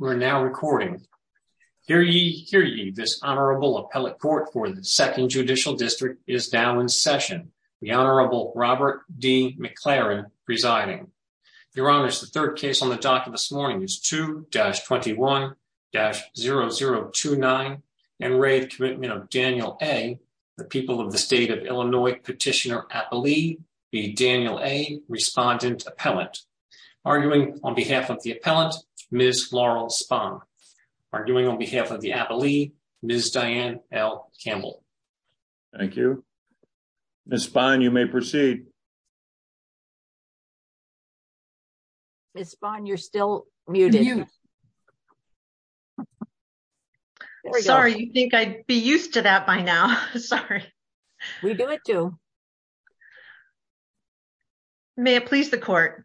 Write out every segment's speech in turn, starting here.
We're now recording. Hear ye, hear ye, this Honorable Appellate Court for the Second Judicial District is now in session. The Honorable Robert D. McLaren presiding. Your Honors, the third case on the docket this morning is 2-21-0029, Enraged Commitment of Daniel A., the People of the State of Illinois Petitioner Appellee v. Daniel A., Respondent Appellant. Arguing on behalf of the Appellant, Ms. Laurel Spahn. Arguing on behalf of the Appellee, Ms. Diane L. Campbell. Thank you. Ms. Spahn, you may proceed. Ms. Spahn, you're still muted. Sorry, you'd think I'd be used to that by now. Sorry. We do it too. May it please the Court.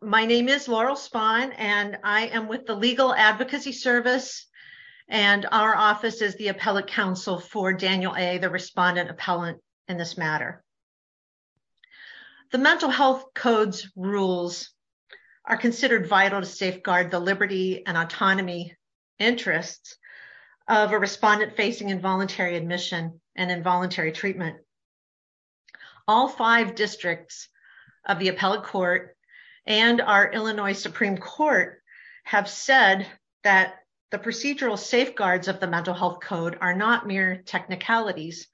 My name is Laurel Spahn, and I am with the Legal Advocacy Service, and our office is the Appellate Council for Daniel A., the Respondent Appellant in this matter. The Mental Health Code's rules are considered vital to safeguard the liberty and autonomy interests of a respondent facing involuntary admission and involuntary treatment. All five districts of the Appellate Court and our Illinois Supreme Court have said that the procedural safeguards of the Mental Health Code are not mere technicalities,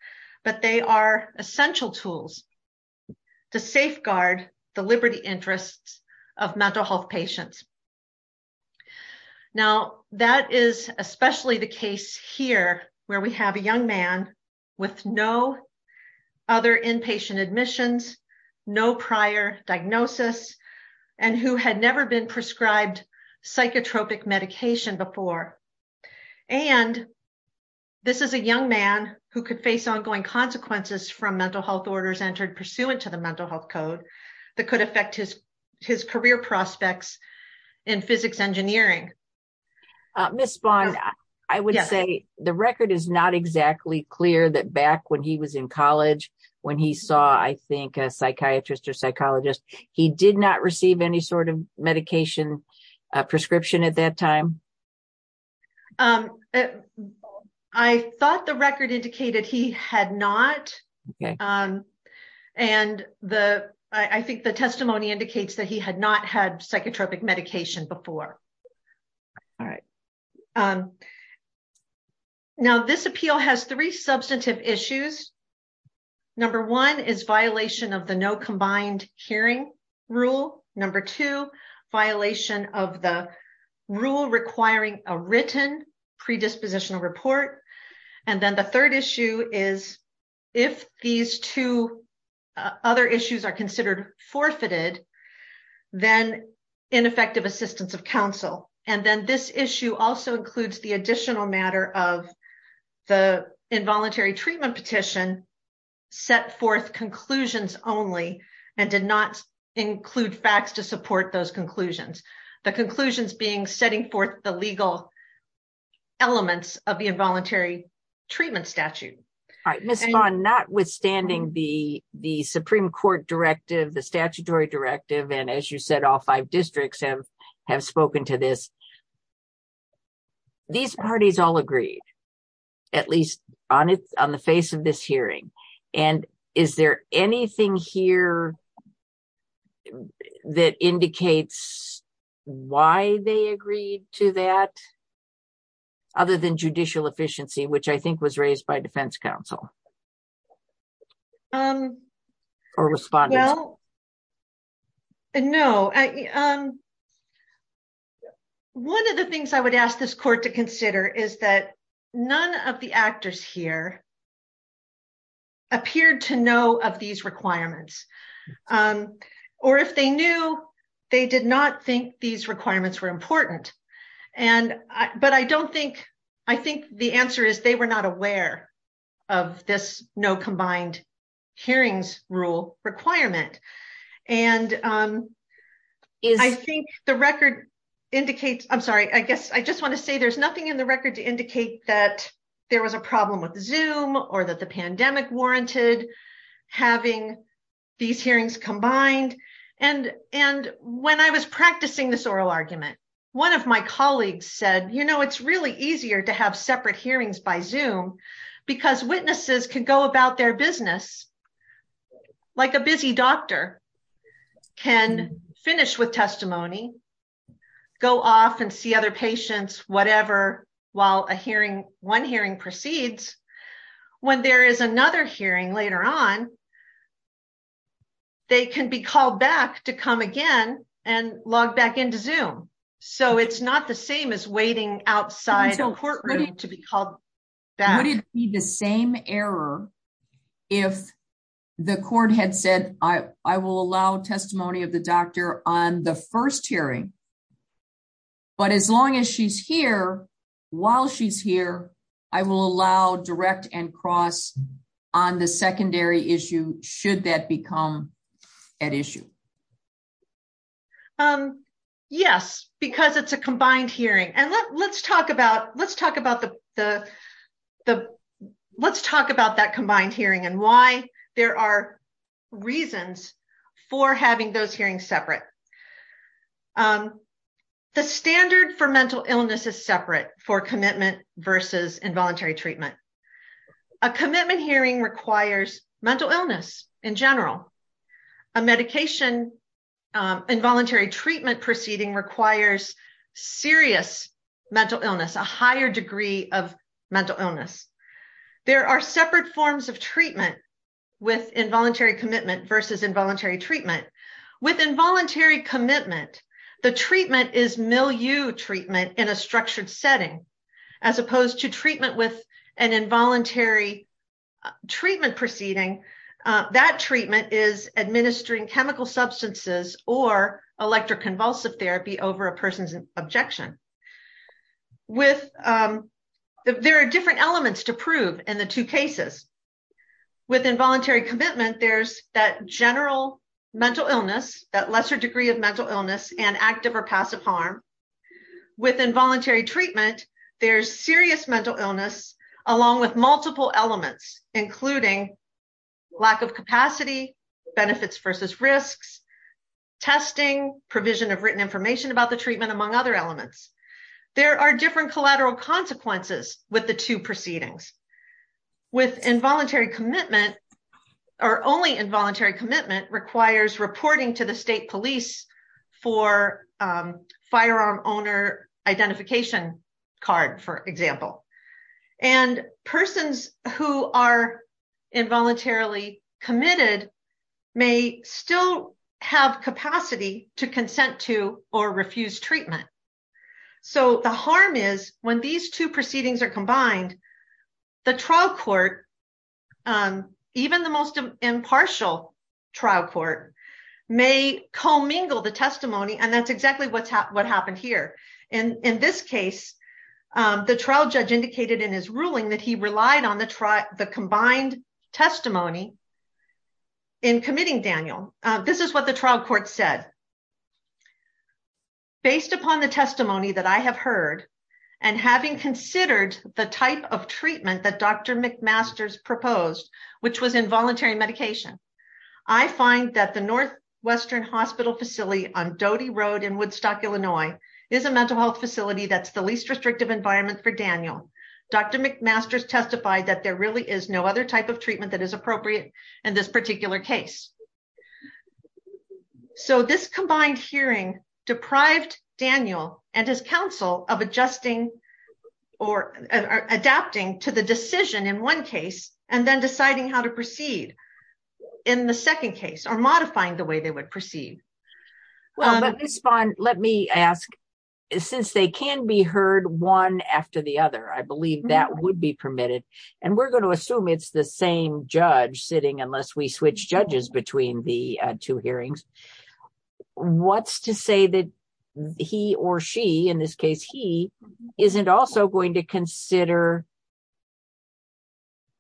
but they are essential tools to safeguard the liberty interests of mental health patients. Now, that is especially the case here, where we have a young man with no other inpatient admissions, no prior diagnosis, and who had never been prescribed psychotropic medication before. And this is a young man who could face ongoing consequences from mental health orders entered pursuant to the Mental Health Code that could affect his career prospects in physics engineering. Ms. Spahn, I would say the record is not exactly clear that back when he was in college, when he saw, I think, a psychiatrist or psychologist, he did not receive any sort of psychotropic medication. I thought the record indicated he had not. And I think the testimony indicates that he had not had psychotropic medication before. All right. Now, this appeal has three substantive issues. Number one is violation of the no combined hearing rule. Number two, violation of the requiring a written predispositional report. And then the third issue is, if these two other issues are considered forfeited, then ineffective assistance of counsel. And then this issue also includes the additional matter of the involuntary treatment petition, set forth conclusions only, and did not include facts to support those conclusions. The conclusions being setting forth the legal elements of the involuntary treatment statute. All right. Ms. Spahn, notwithstanding the Supreme Court directive, the statutory directive, and as you said, all five districts have spoken to this, these parties all agreed, at least on the face of this hearing. And is there anything here that indicates why they agreed to that, other than judicial efficiency, which I think was raised by defense counsel? Or respondents? Well, no. One of the things I would ask this court to consider is that none of the actors here appeared to know of these requirements. Or if they knew, they did not think these requirements were important. And, but I don't think, I think the answer is they were not aware of this no combined hearings rule requirement. And I think the record indicates, I'm sorry, I guess I just want to say there's nothing in the record to indicate that there was a problem with the pandemic warranted, having these hearings combined. And when I was practicing this oral argument, one of my colleagues said, you know, it's really easier to have separate hearings by Zoom because witnesses can go about their business like a busy doctor can finish with testimony, go off and see other patients, whatever, while a hearing, one hearing proceeds. When there is another hearing later on, they can be called back to come again and log back into Zoom. So it's not the same as waiting outside a courtroom to be called back. Would it be the same error if the court had said, I will allow testimony of the doctor on the first hearing, but as long as she's here, while she's here, I will allow direct and cross on the secondary issue, should that become at issue? Yes, because it's a combined hearing. And let's talk about, let's talk about the, the, let's talk about that combined hearing and why there are reasons for having those hearings separate. The standard for mental illness is separate for commitment versus involuntary treatment. A commitment hearing requires mental illness in general. A medication, involuntary treatment proceeding requires serious mental illness, a higher degree of mental illness. There are separate forms of treatment with involuntary commitment versus involuntary treatment. With involuntary commitment, the treatment is milieu treatment in a structured setting, as opposed to treatment with an involuntary treatment proceeding. That treatment is administering chemical substances or electroconvulsive therapy over a person's objection. With, there are different elements to prove in the two cases. With involuntary commitment, there's that general mental illness, that lesser degree of mental illness and active or passive harm. With involuntary treatment, there's serious mental illness, along with multiple elements, including lack of capacity, benefits versus risks, testing, provision of written information about the treatment, among other elements. There are different collateral consequences with the two proceedings. With involuntary commitment, or only involuntary commitment requires reporting to the state police for firearm owner identification card, for example. And persons who are involuntarily committed may still have capacity to consent to or refuse treatment. The harm is when these two proceedings are combined, the trial court, even the most impartial trial court, may commingle the testimony. That's exactly what happened here. In this case, the trial judge indicated in his ruling that he relied on the combined testimony in committing Daniel. This is what the trial court said. Based upon the testimony that I have heard, and having considered the type of treatment that Dr. McMaster's proposed, which was involuntary medication, I find that the Northwestern Hospital facility on Doty Road in Woodstock, Illinois, is a mental health facility that's environment for Daniel. Dr. McMaster's testified that there really is no other type of treatment that is appropriate in this particular case. So this combined hearing deprived Daniel and his counsel of adjusting or adapting to the decision in one case, and then deciding how to proceed in the second case, or modifying the way they would proceed. Well, Ms. Spahn, let me ask, since they can be heard one after the other, I believe that would be permitted, and we're going to assume it's the same judge sitting unless we switch judges between the two hearings, what's to say that he or she, in this case he, isn't also going to consider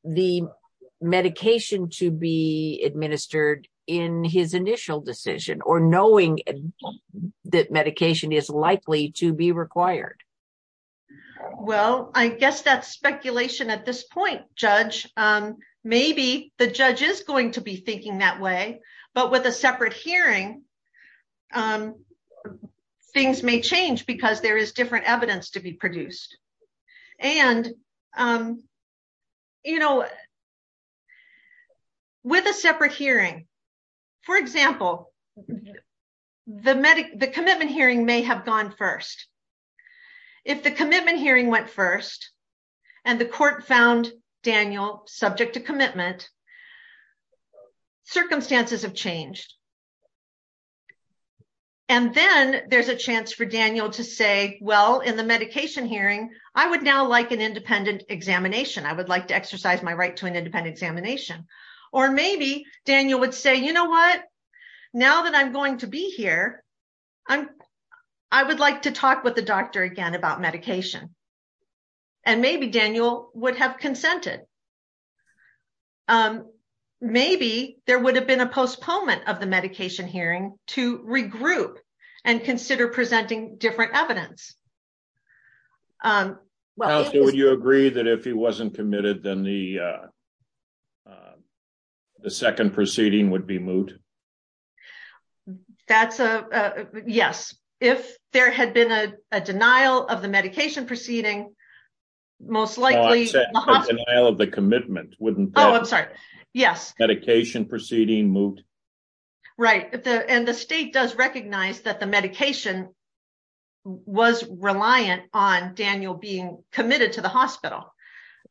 the medication to be administered in his initial decision, or knowing that medication is likely to be required? Well, I guess that's speculation at this point, Judge. Maybe the judge is going to be thinking that way, but with a separate hearing, things may change because there is different evidence to be produced. And, you know, with a separate hearing, for example, the commitment hearing may have gone first. If the commitment hearing went first, and the court found Daniel subject to commitment, circumstances have changed. And then there's a chance for Daniel to say, well, in the medication hearing, I would now like an independent examination. I would like to exercise my right to an independent examination. Or maybe Daniel would say, you know what, now that I'm going to be here, I would like to talk with the doctor again about medication. And maybe Daniel would have consented. Maybe there would have been a postponement of the medication. Counsel, would you agree that if he wasn't committed, then the second proceeding would be moot? That's a, yes. If there had been a denial of the medication proceeding, most likely... No, I'm saying denial of the commitment wouldn't... Oh, I'm sorry. Yes. Medication proceeding, moot. Right. And the state does recognize that the medication was reliant on Daniel being committed to the hospital.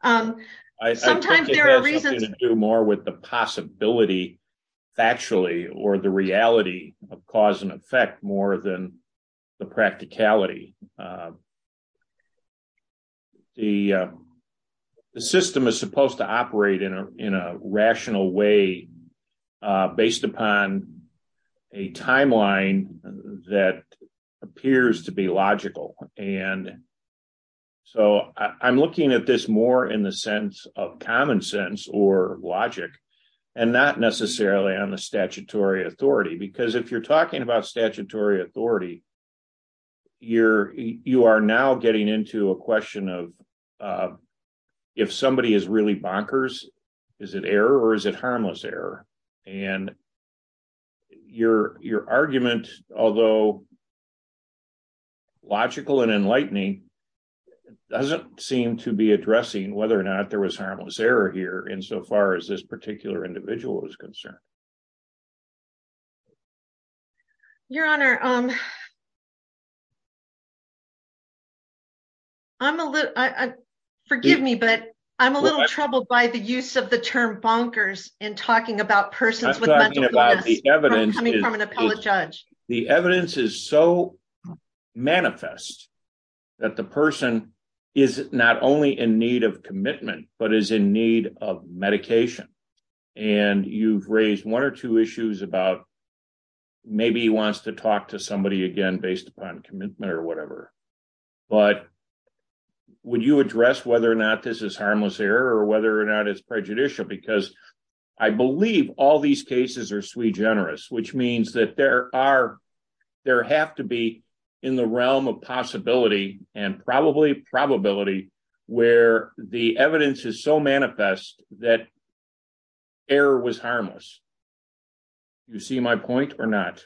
Sometimes there are reasons... I think it has something to do more with the possibility, factually, or the reality of cause and effect more than the practicality. The system is supposed to operate in a rational way based upon a timeline that appears to be logical. And so I'm looking at this more in the sense of common sense or logic and not necessarily on the statutory authority. Because if you're talking about statutory authority, you are now getting into a question of if somebody is really bonkers, is it error or is it harmless error? And your argument, although logical and enlightening, doesn't seem to be addressing whether or not there was harmless error here insofar as this particular individual is concerned. Your Honor, I'm a little... Forgive me, but I'm a little troubled by the use of the term bonkers in talking about persons with mental illness coming from an appellate judge. The evidence is so manifest that the person is not only in need of commitment, but is in need of medication. And you've raised one or two issues about maybe he wants to talk to somebody again based upon commitment or whatever. But would you address whether or not this is harmless error or whether or not it's prejudicial? Because I believe all these cases are sui generis, which means that there have to be in the realm of possibility and probably probability where the evidence is so manifest that error was harmless. You see my point or not?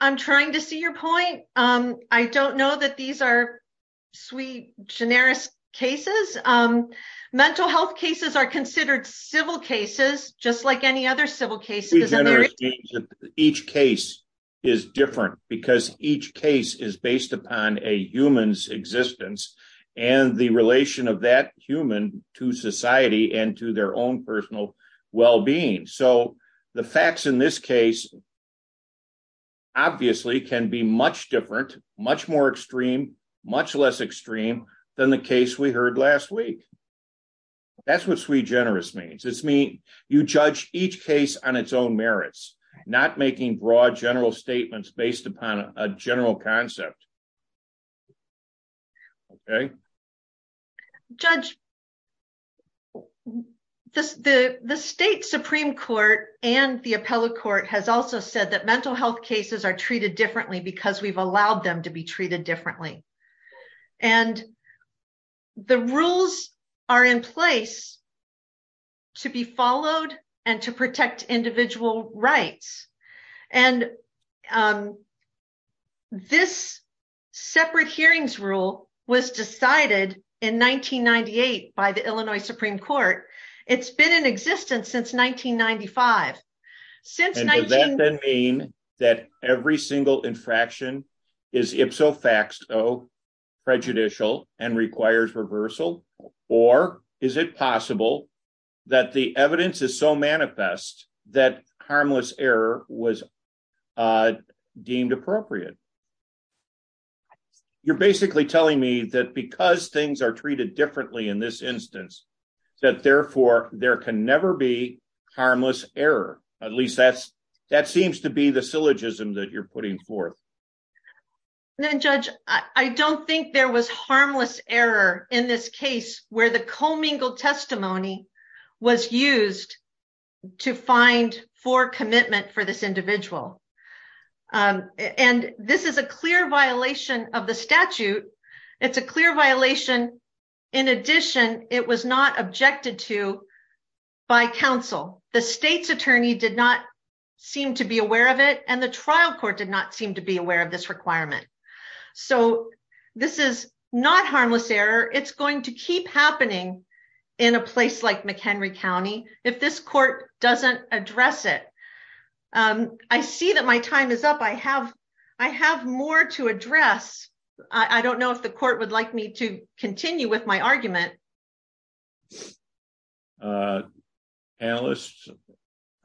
I'm trying to see your point. I don't know that these are sui generis cases. Mental health cases are considered civil cases, just like any other civil cases. Each case is different because each case is based upon a human's existence and the relation of that human to society and to their own personal well-being. So the facts in this case obviously can be much different, much more extreme, much less extreme than the case we heard last week. That's what sui generis means. It means you judge each case on its own right. Judge, the state Supreme Court and the appellate court has also said that mental health cases are treated differently because we've allowed them to be treated differently. And the rules are in place to be followed and to protect individual rights. And this separate hearings rule was decided in 1998 by the Illinois Supreme Court. It's been in existence since 1995. Does that mean that every single infraction is ipso facto prejudicial and requires reversal? Or is it possible that the evidence is so manifest that harmless error was deemed appropriate? You're basically telling me that because things are treated differently in this instance, that therefore there can never be harmless error. At least that seems to be the syllogism that you're putting forth. Judge, I don't think there was harmless error in this case where the commingled testimony was used to find for commitment for this individual. And this is a clear violation of the statute. It's a clear violation. In addition, it was not objected to by counsel. The state's attorney did not seem to be aware of it. And the trial court did not seem to be aware of this requirement. So this is not harmless error. It's going to keep happening in a place like McHenry County if this court doesn't address it. I see that my time is up. I have more to address. I don't know if the court would like me to continue with my argument. Analysts,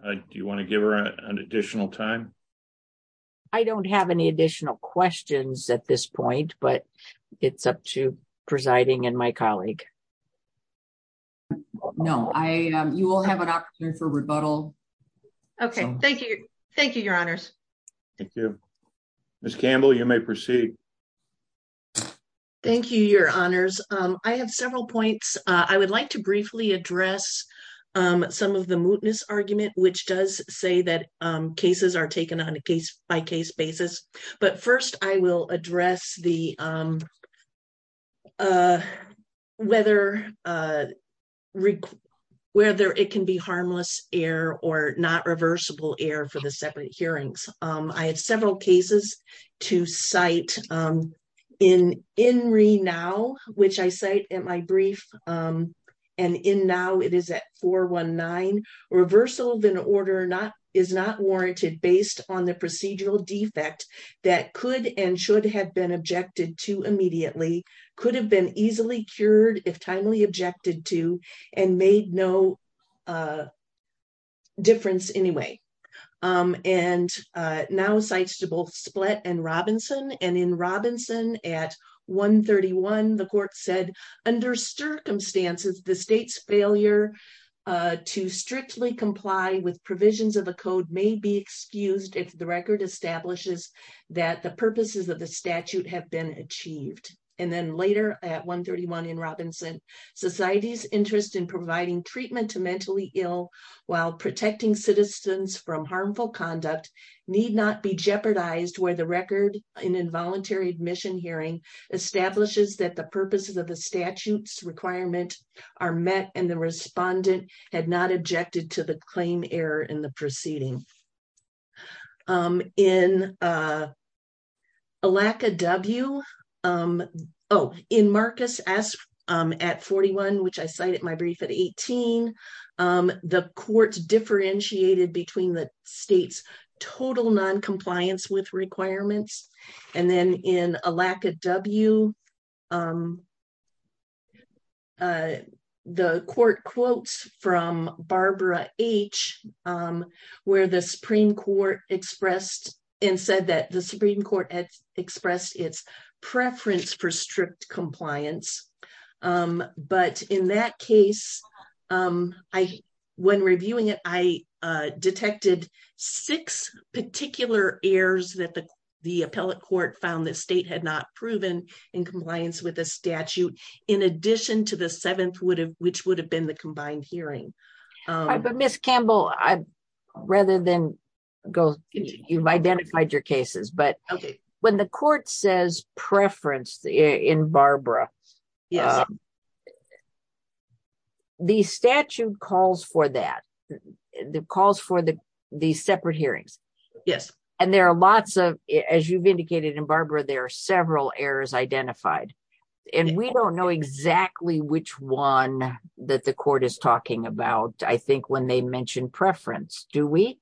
do you want to give her an additional time? I don't have any additional questions at this point, but it's up to presiding and my colleague. No, you will have an opportunity for rebuttal. Okay. Thank you. Thank you, your honors. Thank you. Ms. Campbell, you may proceed. Thank you, your honors. I have several points. I would like to briefly address some of the mootness argument, which does say that cases are taken on a case-by-case basis. But first, I will address whether it can be harmless error or not reversible error for the separate hearings. I have several cases to cite. In Renow, which I cite in my brief, and in now it is at 419, reversal of an order is not warranted based on the procedural defect that could and should have been objected to immediately, could have been easily cured if timely objected to, and made no difference anyway. And now cites to both Splett and Robinson. And in the state's failure to strictly comply with provisions of a code may be excused if the record establishes that the purposes of the statute have been achieved. And then later at 131 in Robinson, society's interest in providing treatment to mentally ill while protecting citizens from harmful conduct need not be jeopardized where the record in involuntary admission hearing establishes that the purposes of the statutes requirement are met and the respondent had not objected to the claim error in the proceeding. In Alaca W, oh, in Marcus S at 41, which I cited my brief at 18, the courts differentiated between the state's total noncompliance with requirements. And then in Alaca W, the court quotes from Barbara H, where the Supreme Court expressed and said that the Supreme Court had expressed its preference for strict compliance. But in that case, when reviewing it, I detected six particular errors that the appellate court found that state had not proven in compliance with a statute, in addition to the seventh would have which would have been the combined hearing. But Miss Campbell, I'd rather than go, you've identified your cases, but when the court says preference in Barbara, the statute calls for that. The calls for the, the separate hearings. Yes. And there are lots of, as you've indicated in Barbara, there are several errors identified. And we don't know exactly which one that the court is talking about. I think when they mentioned preference, do we?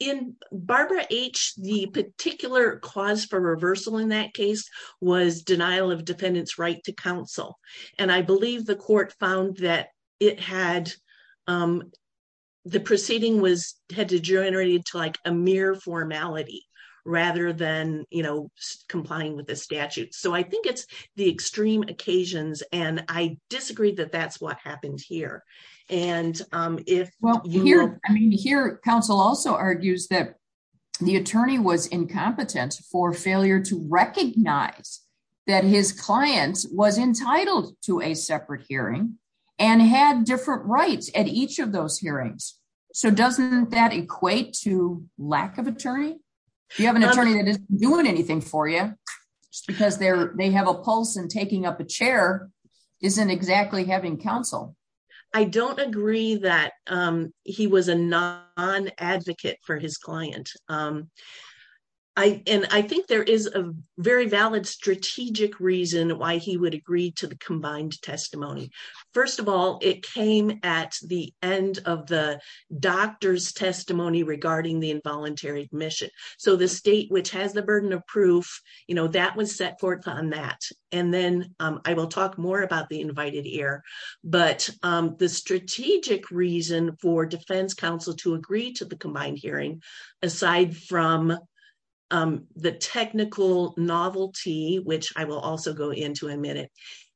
In Barbara H, the particular cause for reversal in that case was denial of defendants right to counsel. And I believe the court found that it had, the proceeding was had degenerated to like a mere formality, rather than, you know, complying with the statute. So I think it's the extreme occasions. And I disagree that that's what happened here. And if well, here, I mean, here, counsel also argues that the attorney was incompetent for failure to recognize that his clients was entitled to a separate hearing, and had different rights at each of those hearings. So doesn't that equate to lack of attorney, you have an attorney that is doing anything for you, because they're they have a pulse and taking up a chair isn't exactly having counsel. I don't agree that he was a non advocate for his client. I and I think there is a very valid strategic reason why he would agree to the combined testimony. First of all, it came at the end of the doctor's testimony regarding the involuntary admission. So the state which has the burden of proof, you know, that was set forth on that. And then I will talk more about the invited here. But the strategic reason for defense counsel to agree to the combined hearing, aside from the technical novelty, which I will also go into a minute,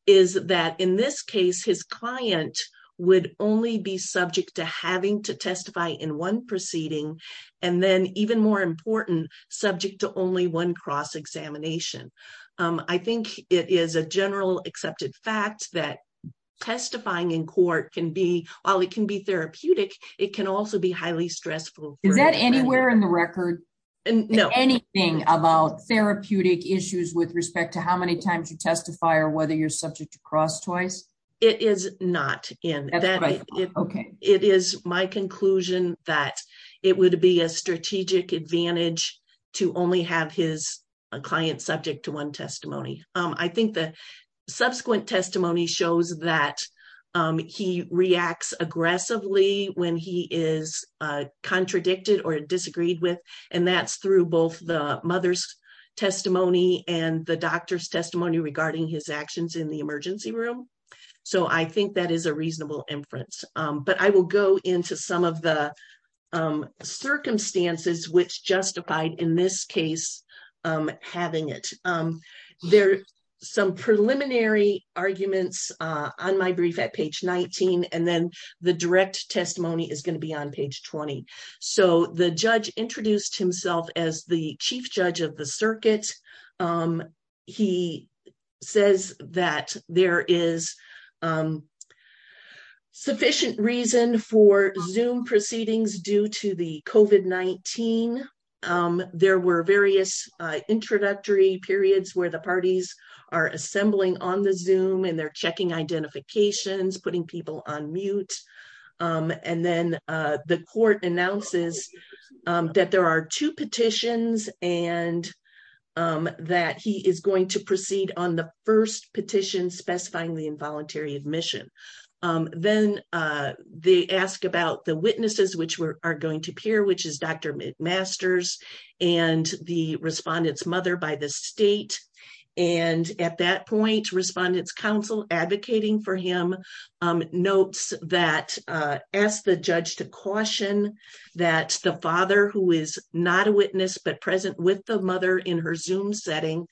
is that in this case, his client would only be subject to having to testify in one proceeding. And then even more important, subject to only one cross examination. I think it is a general accepted fact that testifying in court can be while it can be therapeutic, it can also be highly stressful. Is that anywhere in the record? And anything about therapeutic issues with respect to how many times you testify or whether you're subject to cross twice? It is not in that. Okay, it is my conclusion that it would be a strategic advantage to only have his client subject to one testimony. I think the subsequent testimony shows that he reacts aggressively when he is contradicted or disagreed with. And that's through both the mother's testimony and the doctor's testimony regarding his actions in the emergency room. So I think that is a reasonable inference. But I will go into some of the circumstances which justified in this case, having it. There are some preliminary arguments on my brief at page 19. And then the direct testimony is going to be on page 20. So the judge introduced himself as the chief judge of the circuit. He says that there is sufficient reason for zoom proceedings due to the COVID-19. There were various introductory periods where the parties are assembling on the zoom and they're and then the court announces that there are two petitions and that he is going to proceed on the first petition specifying the involuntary admission. Then they ask about the witnesses, which are going to peer, which is Dr. McMaster's and the respondents mother by the state. And at that point, respondents counsel advocating for him notes that asked the judge to caution that the father who is not a witness but present with the mother in her zoom setting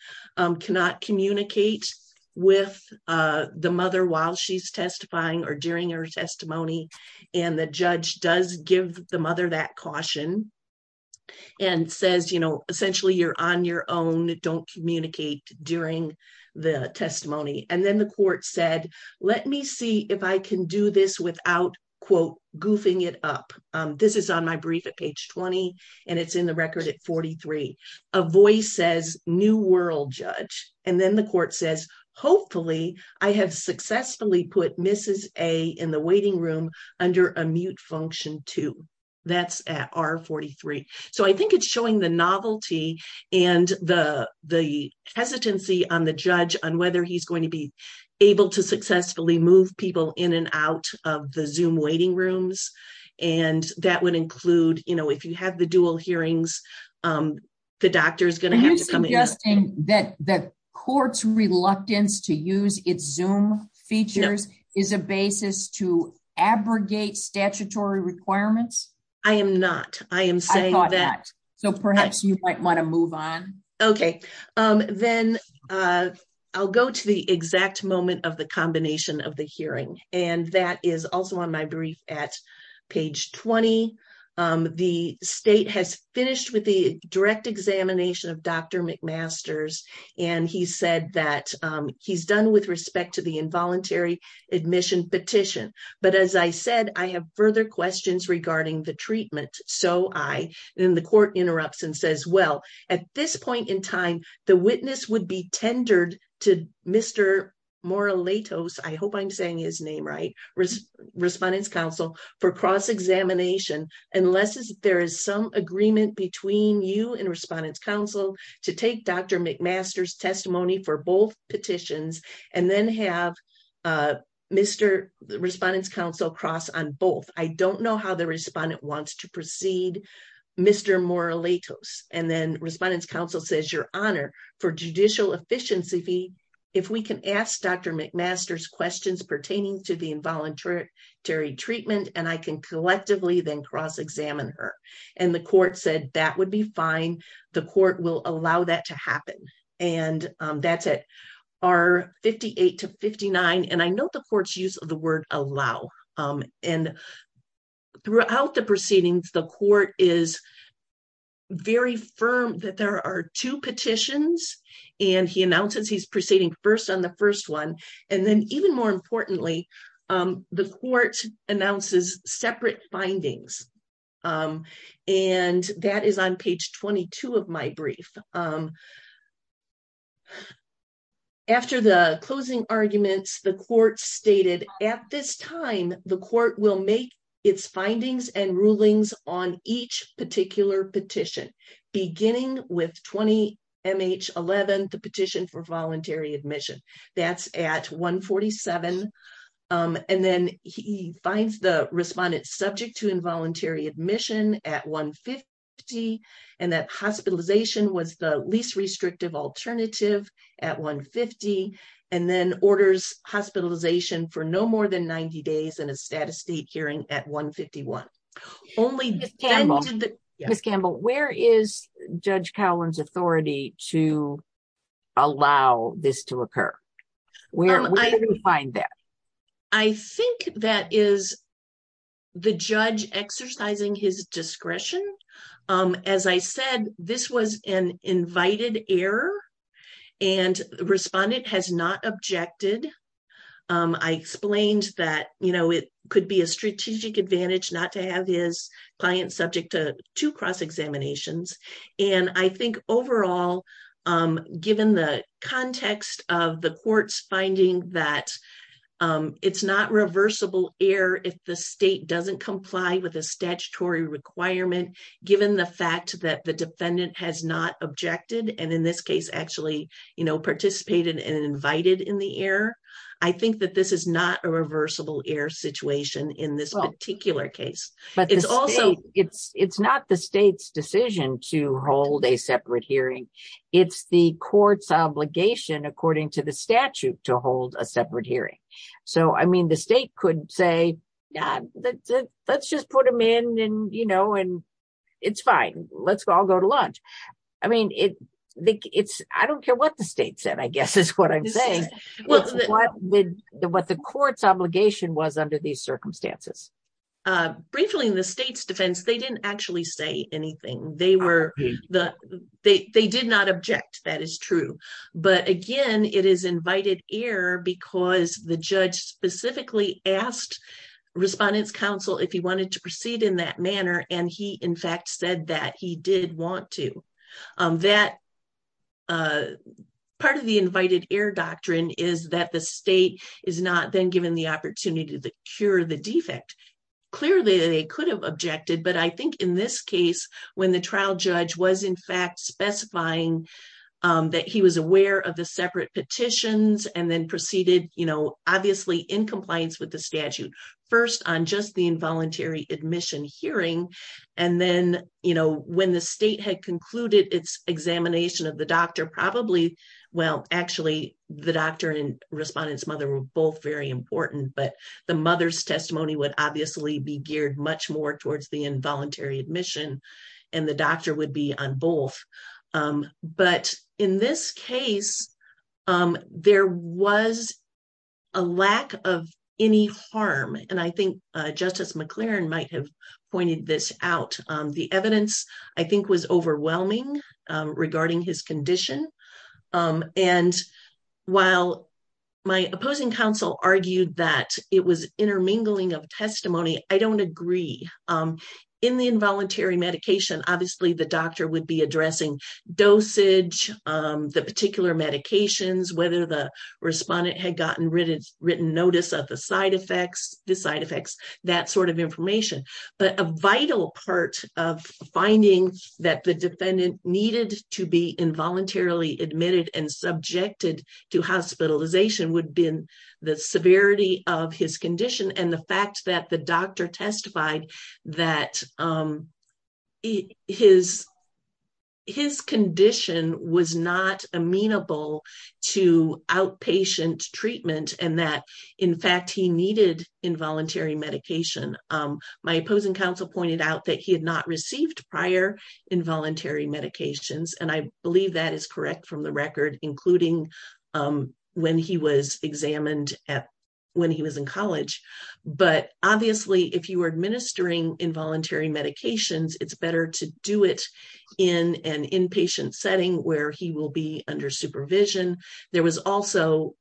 cannot communicate with the mother while she's testifying or during her testimony. And the judge does give the mother that caution and says, you know, essentially you're on your own, don't communicate during the testimony. And then the court said, let me see if I can do this without quote goofing it up. This is on my brief at page 20 and it's in the record at 43. A voice says new world judge. And then the court says, hopefully I have successfully put Mrs. A in the waiting room under a mute function too. That's at R43. So I think it's showing the novelty and the, the hesitancy on the judge on whether he's going to be able to successfully move people in and out of the zoom waiting rooms. And that would include, you know, if you have the dual hearings the doctor is going to have to come in. That that court's reluctance to use its zoom features is a basis to abrogate statutory requirements. I am not. I am saying that so perhaps you might want to move on. Okay. Then I'll go to the exact moment of the combination of the hearing. And that is also on my brief at page 20. The state has finished with the direct examination of Dr. McMaster's. And he said that he's done with respect to the involuntary admission petition. But as I said, I have further questions regarding the treatment. So I, and then the court interrupts and says, well, at this point in time, the witness would be tendered to Mr. Moralato's. I hope I'm saying his name, right? Respondents council for cross examination. Unless there is some agreement between you and respondents council to take Dr. McMaster's testimony for both petitions and then have Mr. Respondents council cross on both. I don't know how the respondent wants to proceed Mr. Moralato's. And then respondents council says your honor for judicial efficiency. If we can ask Dr. McMaster's questions pertaining to the involuntary treatment, and I can collectively then cross examine her. And the court said that would be fine. The court will allow that to happen. And that's it are 58 to 59. And I know the court's use of the word allow. And throughout the proceedings, the court is very firm that there are two petitions, and he announces he's proceeding first on the first one. And then even more importantly, the court announces separate findings. And that is on page 22 of my stated at this time, the court will make its findings and rulings on each particular petition, beginning with 20. MH 11, the petition for voluntary admission, that's at 147. And then he finds the respondent subject to involuntary admission at 150. And that hospitalization was least restrictive alternative at 150. And then orders hospitalization for no more than 90 days in a status state hearing at 151. Only Miss Campbell, where is Judge Collins authority to allow this to occur? Where I find that? I think that is the judge exercising his discretion. As I said, this was an invited error. And the respondent has not objected. I explained that, you know, it could be a strategic advantage not to have his client subject to two cross examinations. And I think overall, given the context of the court's that it's not reversible error, if the state doesn't comply with a statutory requirement, given the fact that the defendant has not objected, and in this case, actually, you know, participated and invited in the air. I think that this is not a reversible error situation in this particular case. But it's also it's it's not the state's decision to hold a separate hearing. It's the court's obligation, according to the statute to hold a separate hearing. So I mean, the state could say, yeah, let's just put them in and you know, and it's fine. Let's go. I'll go to lunch. I mean, it's I don't care what the state said, I guess is what I'm saying. What the what the court's obligation was under these circumstances. Briefly in the state's defense, they didn't actually say anything they were the they did not object. That is true. But again, it is invited air because the judge specifically asked respondents counsel if he wanted to proceed in that manner. And he in fact, said that he did want to that part of the invited air doctrine is that the state is not then given the opportunity to cure the defect. Clearly, they could have objected. But I think in this case, when the trial judge was in fact specifying that he was aware of the separate petitions and then proceeded, you know, obviously in compliance with the statute, first on just the involuntary admission hearing. And then, you know, when the state had concluded its examination of the doctor probably, well, actually, the doctor and respondents mother were both very important. But the mother's testimony would obviously be geared much more towards the involuntary admission. And the doctor would be on both. But in this case, there was a lack of any harm. And I think Justice McLaren might have pointed this out. The evidence, I think was overwhelming regarding his condition. And while my opposing counsel argued that it was intermingling of testimony, I don't agree. In the involuntary medication, obviously, the doctor would be addressing dosage, the particular medications, whether the respondent had gotten rid of written notice of the side effects, the side effects, that sort of information, but a vital part of finding that the defendant needed to be involuntarily admitted and subjected to hospitalization would have been the severity of his condition and the fact that the doctor testified that his condition was not amenable to outpatient treatment and that, in fact, he needed involuntary medication. My opposing counsel pointed out that he had not received prior involuntary medications. And I believe that is correct from the record, including when he was examined when he was in college. But obviously, if you are administering involuntary medications, it's better to do it in an inpatient setting where he will be under supervision. There was also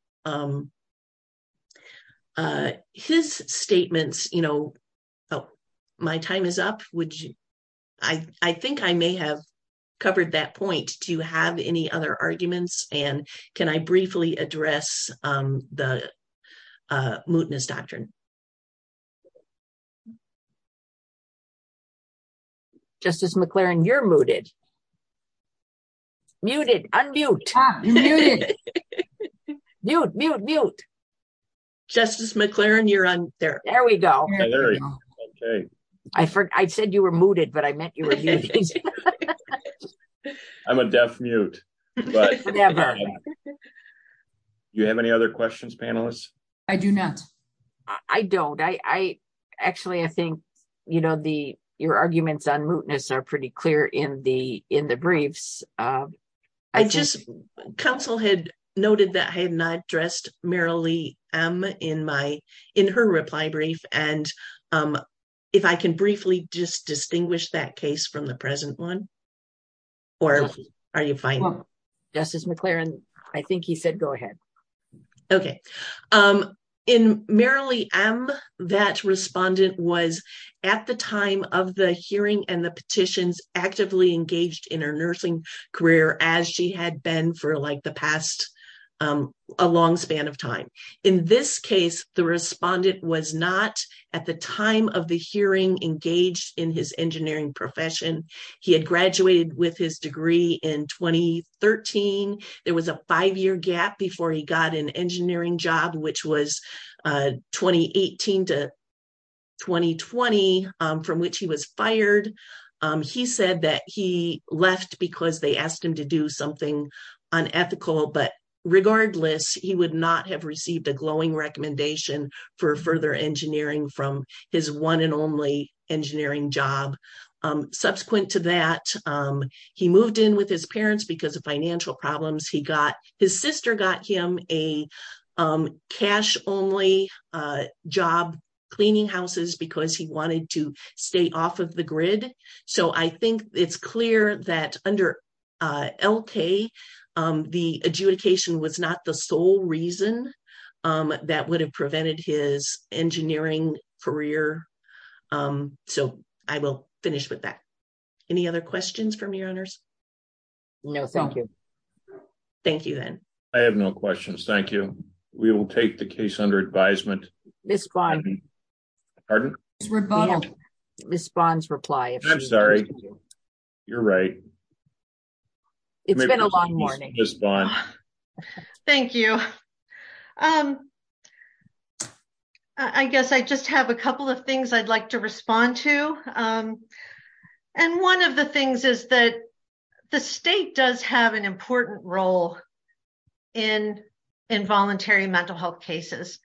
his statements, you know, oh, my time is up. I think I may have covered that point. Do you have any other arguments? And can I briefly address the mootness doctrine? Justice McLaren, you're mooted. Muted. Unmute. Mute. Mute. Mute. Justice McLaren, you're on there. There we go. I said you were mooted, but I meant you were muted. I'm a deaf mute. Never. Do you have any other questions, panelists? I do not. I don't. Actually, I think, you know, your arguments on mootness are pretty clear in the briefs. Counsel had noted that I had not addressed Merrilee M. in her reply brief. And if I can briefly just distinguish that case from the present one, or are you fine? Justice McLaren, I think he said go ahead. Okay. In Merrilee M., that respondent was at the time of the hearing and the petitions actively engaged in her nursing career as she had been for like the past, a long span of time. In this case, the respondent was not at the time of the hearing engaged in his There was a five-year gap before he got an engineering job, which was 2018 to 2020, from which he was fired. He said that he left because they asked him to do something unethical. But regardless, he would not have received a glowing recommendation for further engineering from his one and only engineering job. Subsequent to that, he moved in with his parents because of financial problems. His sister got him a cash-only job cleaning houses because he wanted to stay off of the grid. So I think it's clear that under L.K., the adjudication was not the sole reason that would have prevented his from being fired. I guess I just have a couple of things I'd like to respond to. And one of the things is that the state does have an important role in involuntary mental health cases.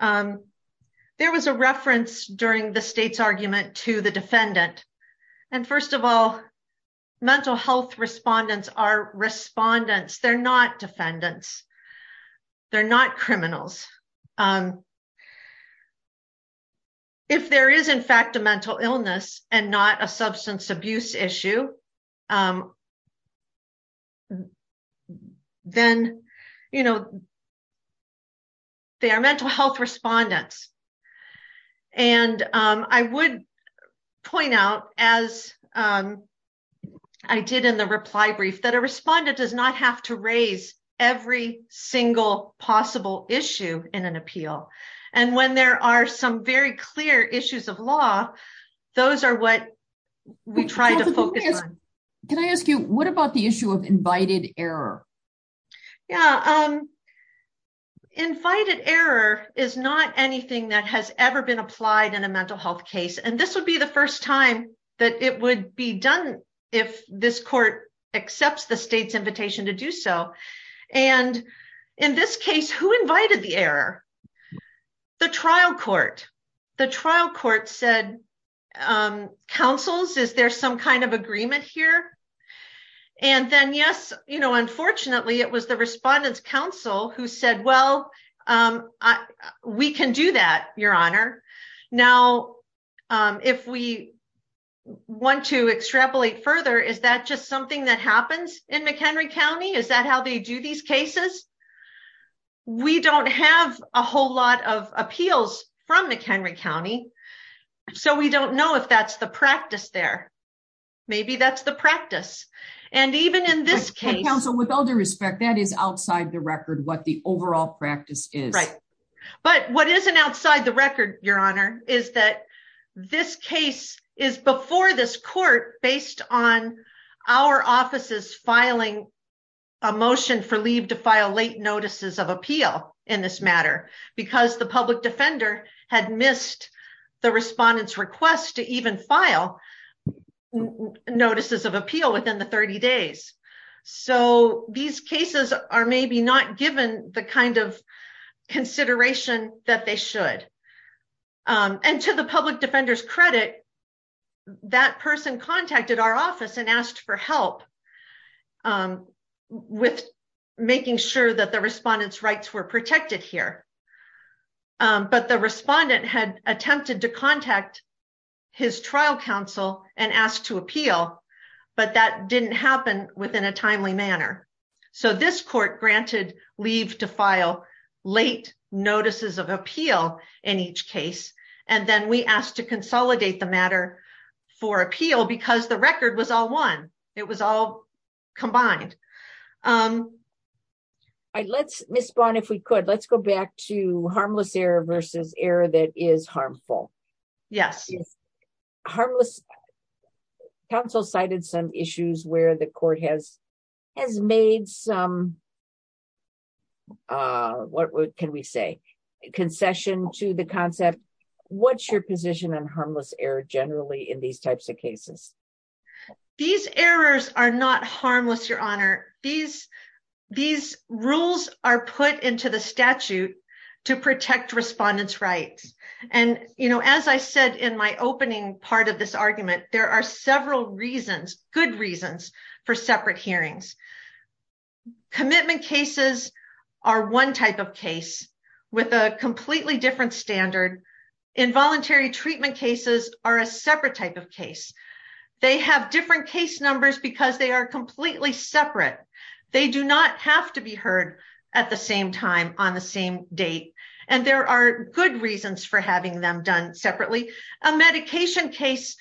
There was a reference during the state's argument to the defendant. And first of all, mental health respondents are respondents. They're not defendants. They're not criminals. If there is in fact a mental illness and not a substance abuse issue, then they are mental health respondents. And I would point out, as I did in the reply brief, a respondent does not have to raise every single possible issue in an appeal. And when there are some very clear issues of law, those are what we try to focus on. Can I ask you, what about the issue of invited error? Yeah, invited error is not anything that has ever been applied in a mental health case. And this would be the first time that it would be done if this court accepts the state's invitation to do so. And in this case, who invited the error? The trial court. The trial court said, counsels, is there some kind of agreement here? And then yes, unfortunately it was the we want to extrapolate further, is that just something that happens in McHenry County? Is that how they do these cases? We don't have a whole lot of appeals from McHenry County. So we don't know if that's the practice there. Maybe that's the practice. And even in this case- But counsel, with all due respect, that is outside the record what the overall practice is. But what isn't outside the record, Your Honor, is that this case is before this court based on our offices filing a motion for leave to file late notices of appeal in this matter, because the public defender had missed the respondent's request to even file notices of appeal within the 30 days. So these cases are maybe not given the kind of consideration that they should. And to the public defender's credit, that person contacted our office and asked for help with making sure that the respondent's rights were protected here. But the respondent had attempted to contact his trial counsel and asked to appeal, but that didn't happen within a timely manner. So this court granted leave to file late notices of appeal in each case. And then we asked to consolidate the matter for appeal because the record was all one. It was all combined. Let's, Ms. Bond, if we could, let's go back to harmless error versus error that is harmful. Yes. Harmless. Counsel cited some issues where the court has made some, what can we say, concession to the concept. What's your position on harmless error generally in these types of cases? These errors are not harmless, Your Honor. These rules are put into the statute to protect respondent's rights. And as I said, in my opening part of this argument, there are several reasons, good reasons for separate hearings. Commitment cases are one type of case with a completely different standard. Involuntary treatment cases are a separate type of case. They have different case numbers because they are completely separate. They do not have to be heard at the same time on the same date. And there are good reasons for having them done separately. A medication case,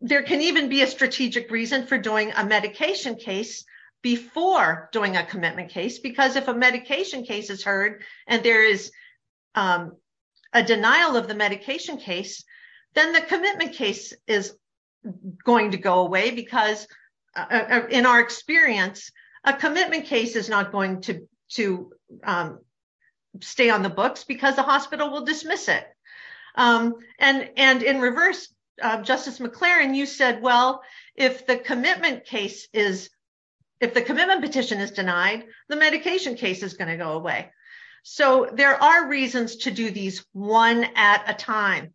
there can even be a strategic reason for doing a medication case before doing a commitment case, because if a medication case is heard and there is a denial of the medication case, then the commitment case is going to go away because in our experience, a commitment case is not going to stay on the books because the hospital will dismiss it. And in reverse, Justice McLaren, you said, well, if the commitment petition is denied, the medication case is going to go away. So there are reasons to do these one at a time.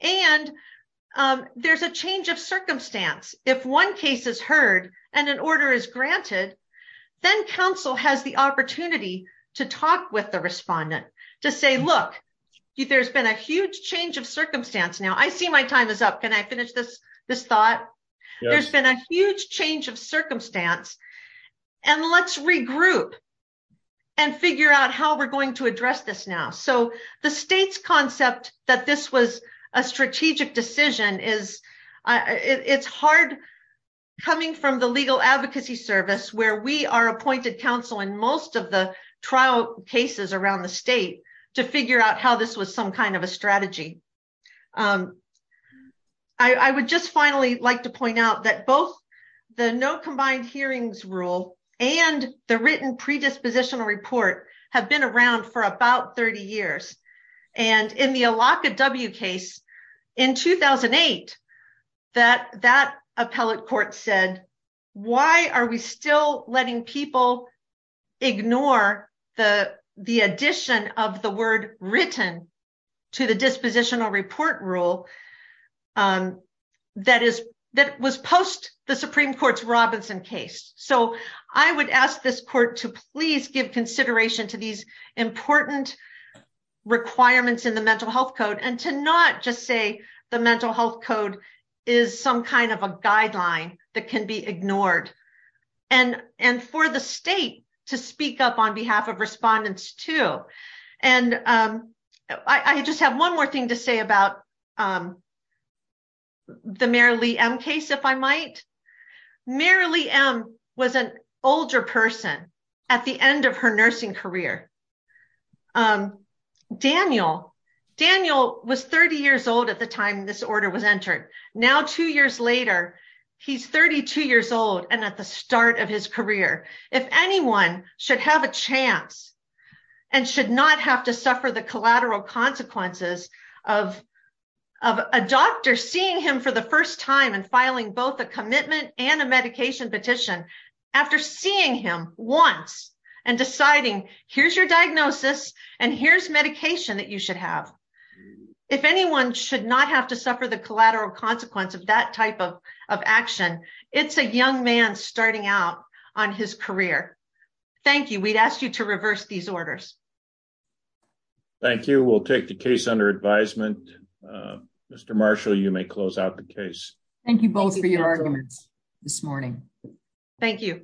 And there's a change of circumstance. If one case is heard and an order is granted, then counsel has the opportunity to talk with the respondent to say, look, there's been a huge change of circumstance now. I see my time is up. Can I finish this thought? There's been a huge change of circumstance. And let's regroup and figure out how we're going to address this now. So the state's concept that this was a strategic decision is, it's hard coming from the legal advocacy service where we are appointed counsel in most of the trial cases around the state to figure out how this was some kind of a strategy. I would just finally like to point out that both the no combined hearings rule and the written predispositional report have been around for about 30 years. And in the Alaka W case in 2008, that appellate court said, why are we still letting people ignore the addition of the word written to the dispositional report rule that was post the Supreme Court's Robinson case. So I would ask this court to please give consideration to these important requirements in the mental health code and to not just say the mental health code is some kind of a guideline that can be ignored. And for the state to speak up on behalf of respondents too. And I just have one more thing to say about the Marylee M case, if I might. Marylee M was an older person at the end of her nursing career. Daniel was 30 years old at the time this order was entered. Now, two years later, he's 32 years old and at the start of his career. If anyone should have a chance and should not have to of a doctor seeing him for the first time and filing both a commitment and a medication petition after seeing him once and deciding here's your diagnosis and here's medication that you should have. If anyone should not have to suffer the collateral consequence of that type of action, it's a young man starting out on his career. Thank you. We'd ask you to reverse these orders. Thank you. We'll take the case under advisement. Mr. Marshall, you may close out the case. Thank you both for your arguments this morning. Thank you.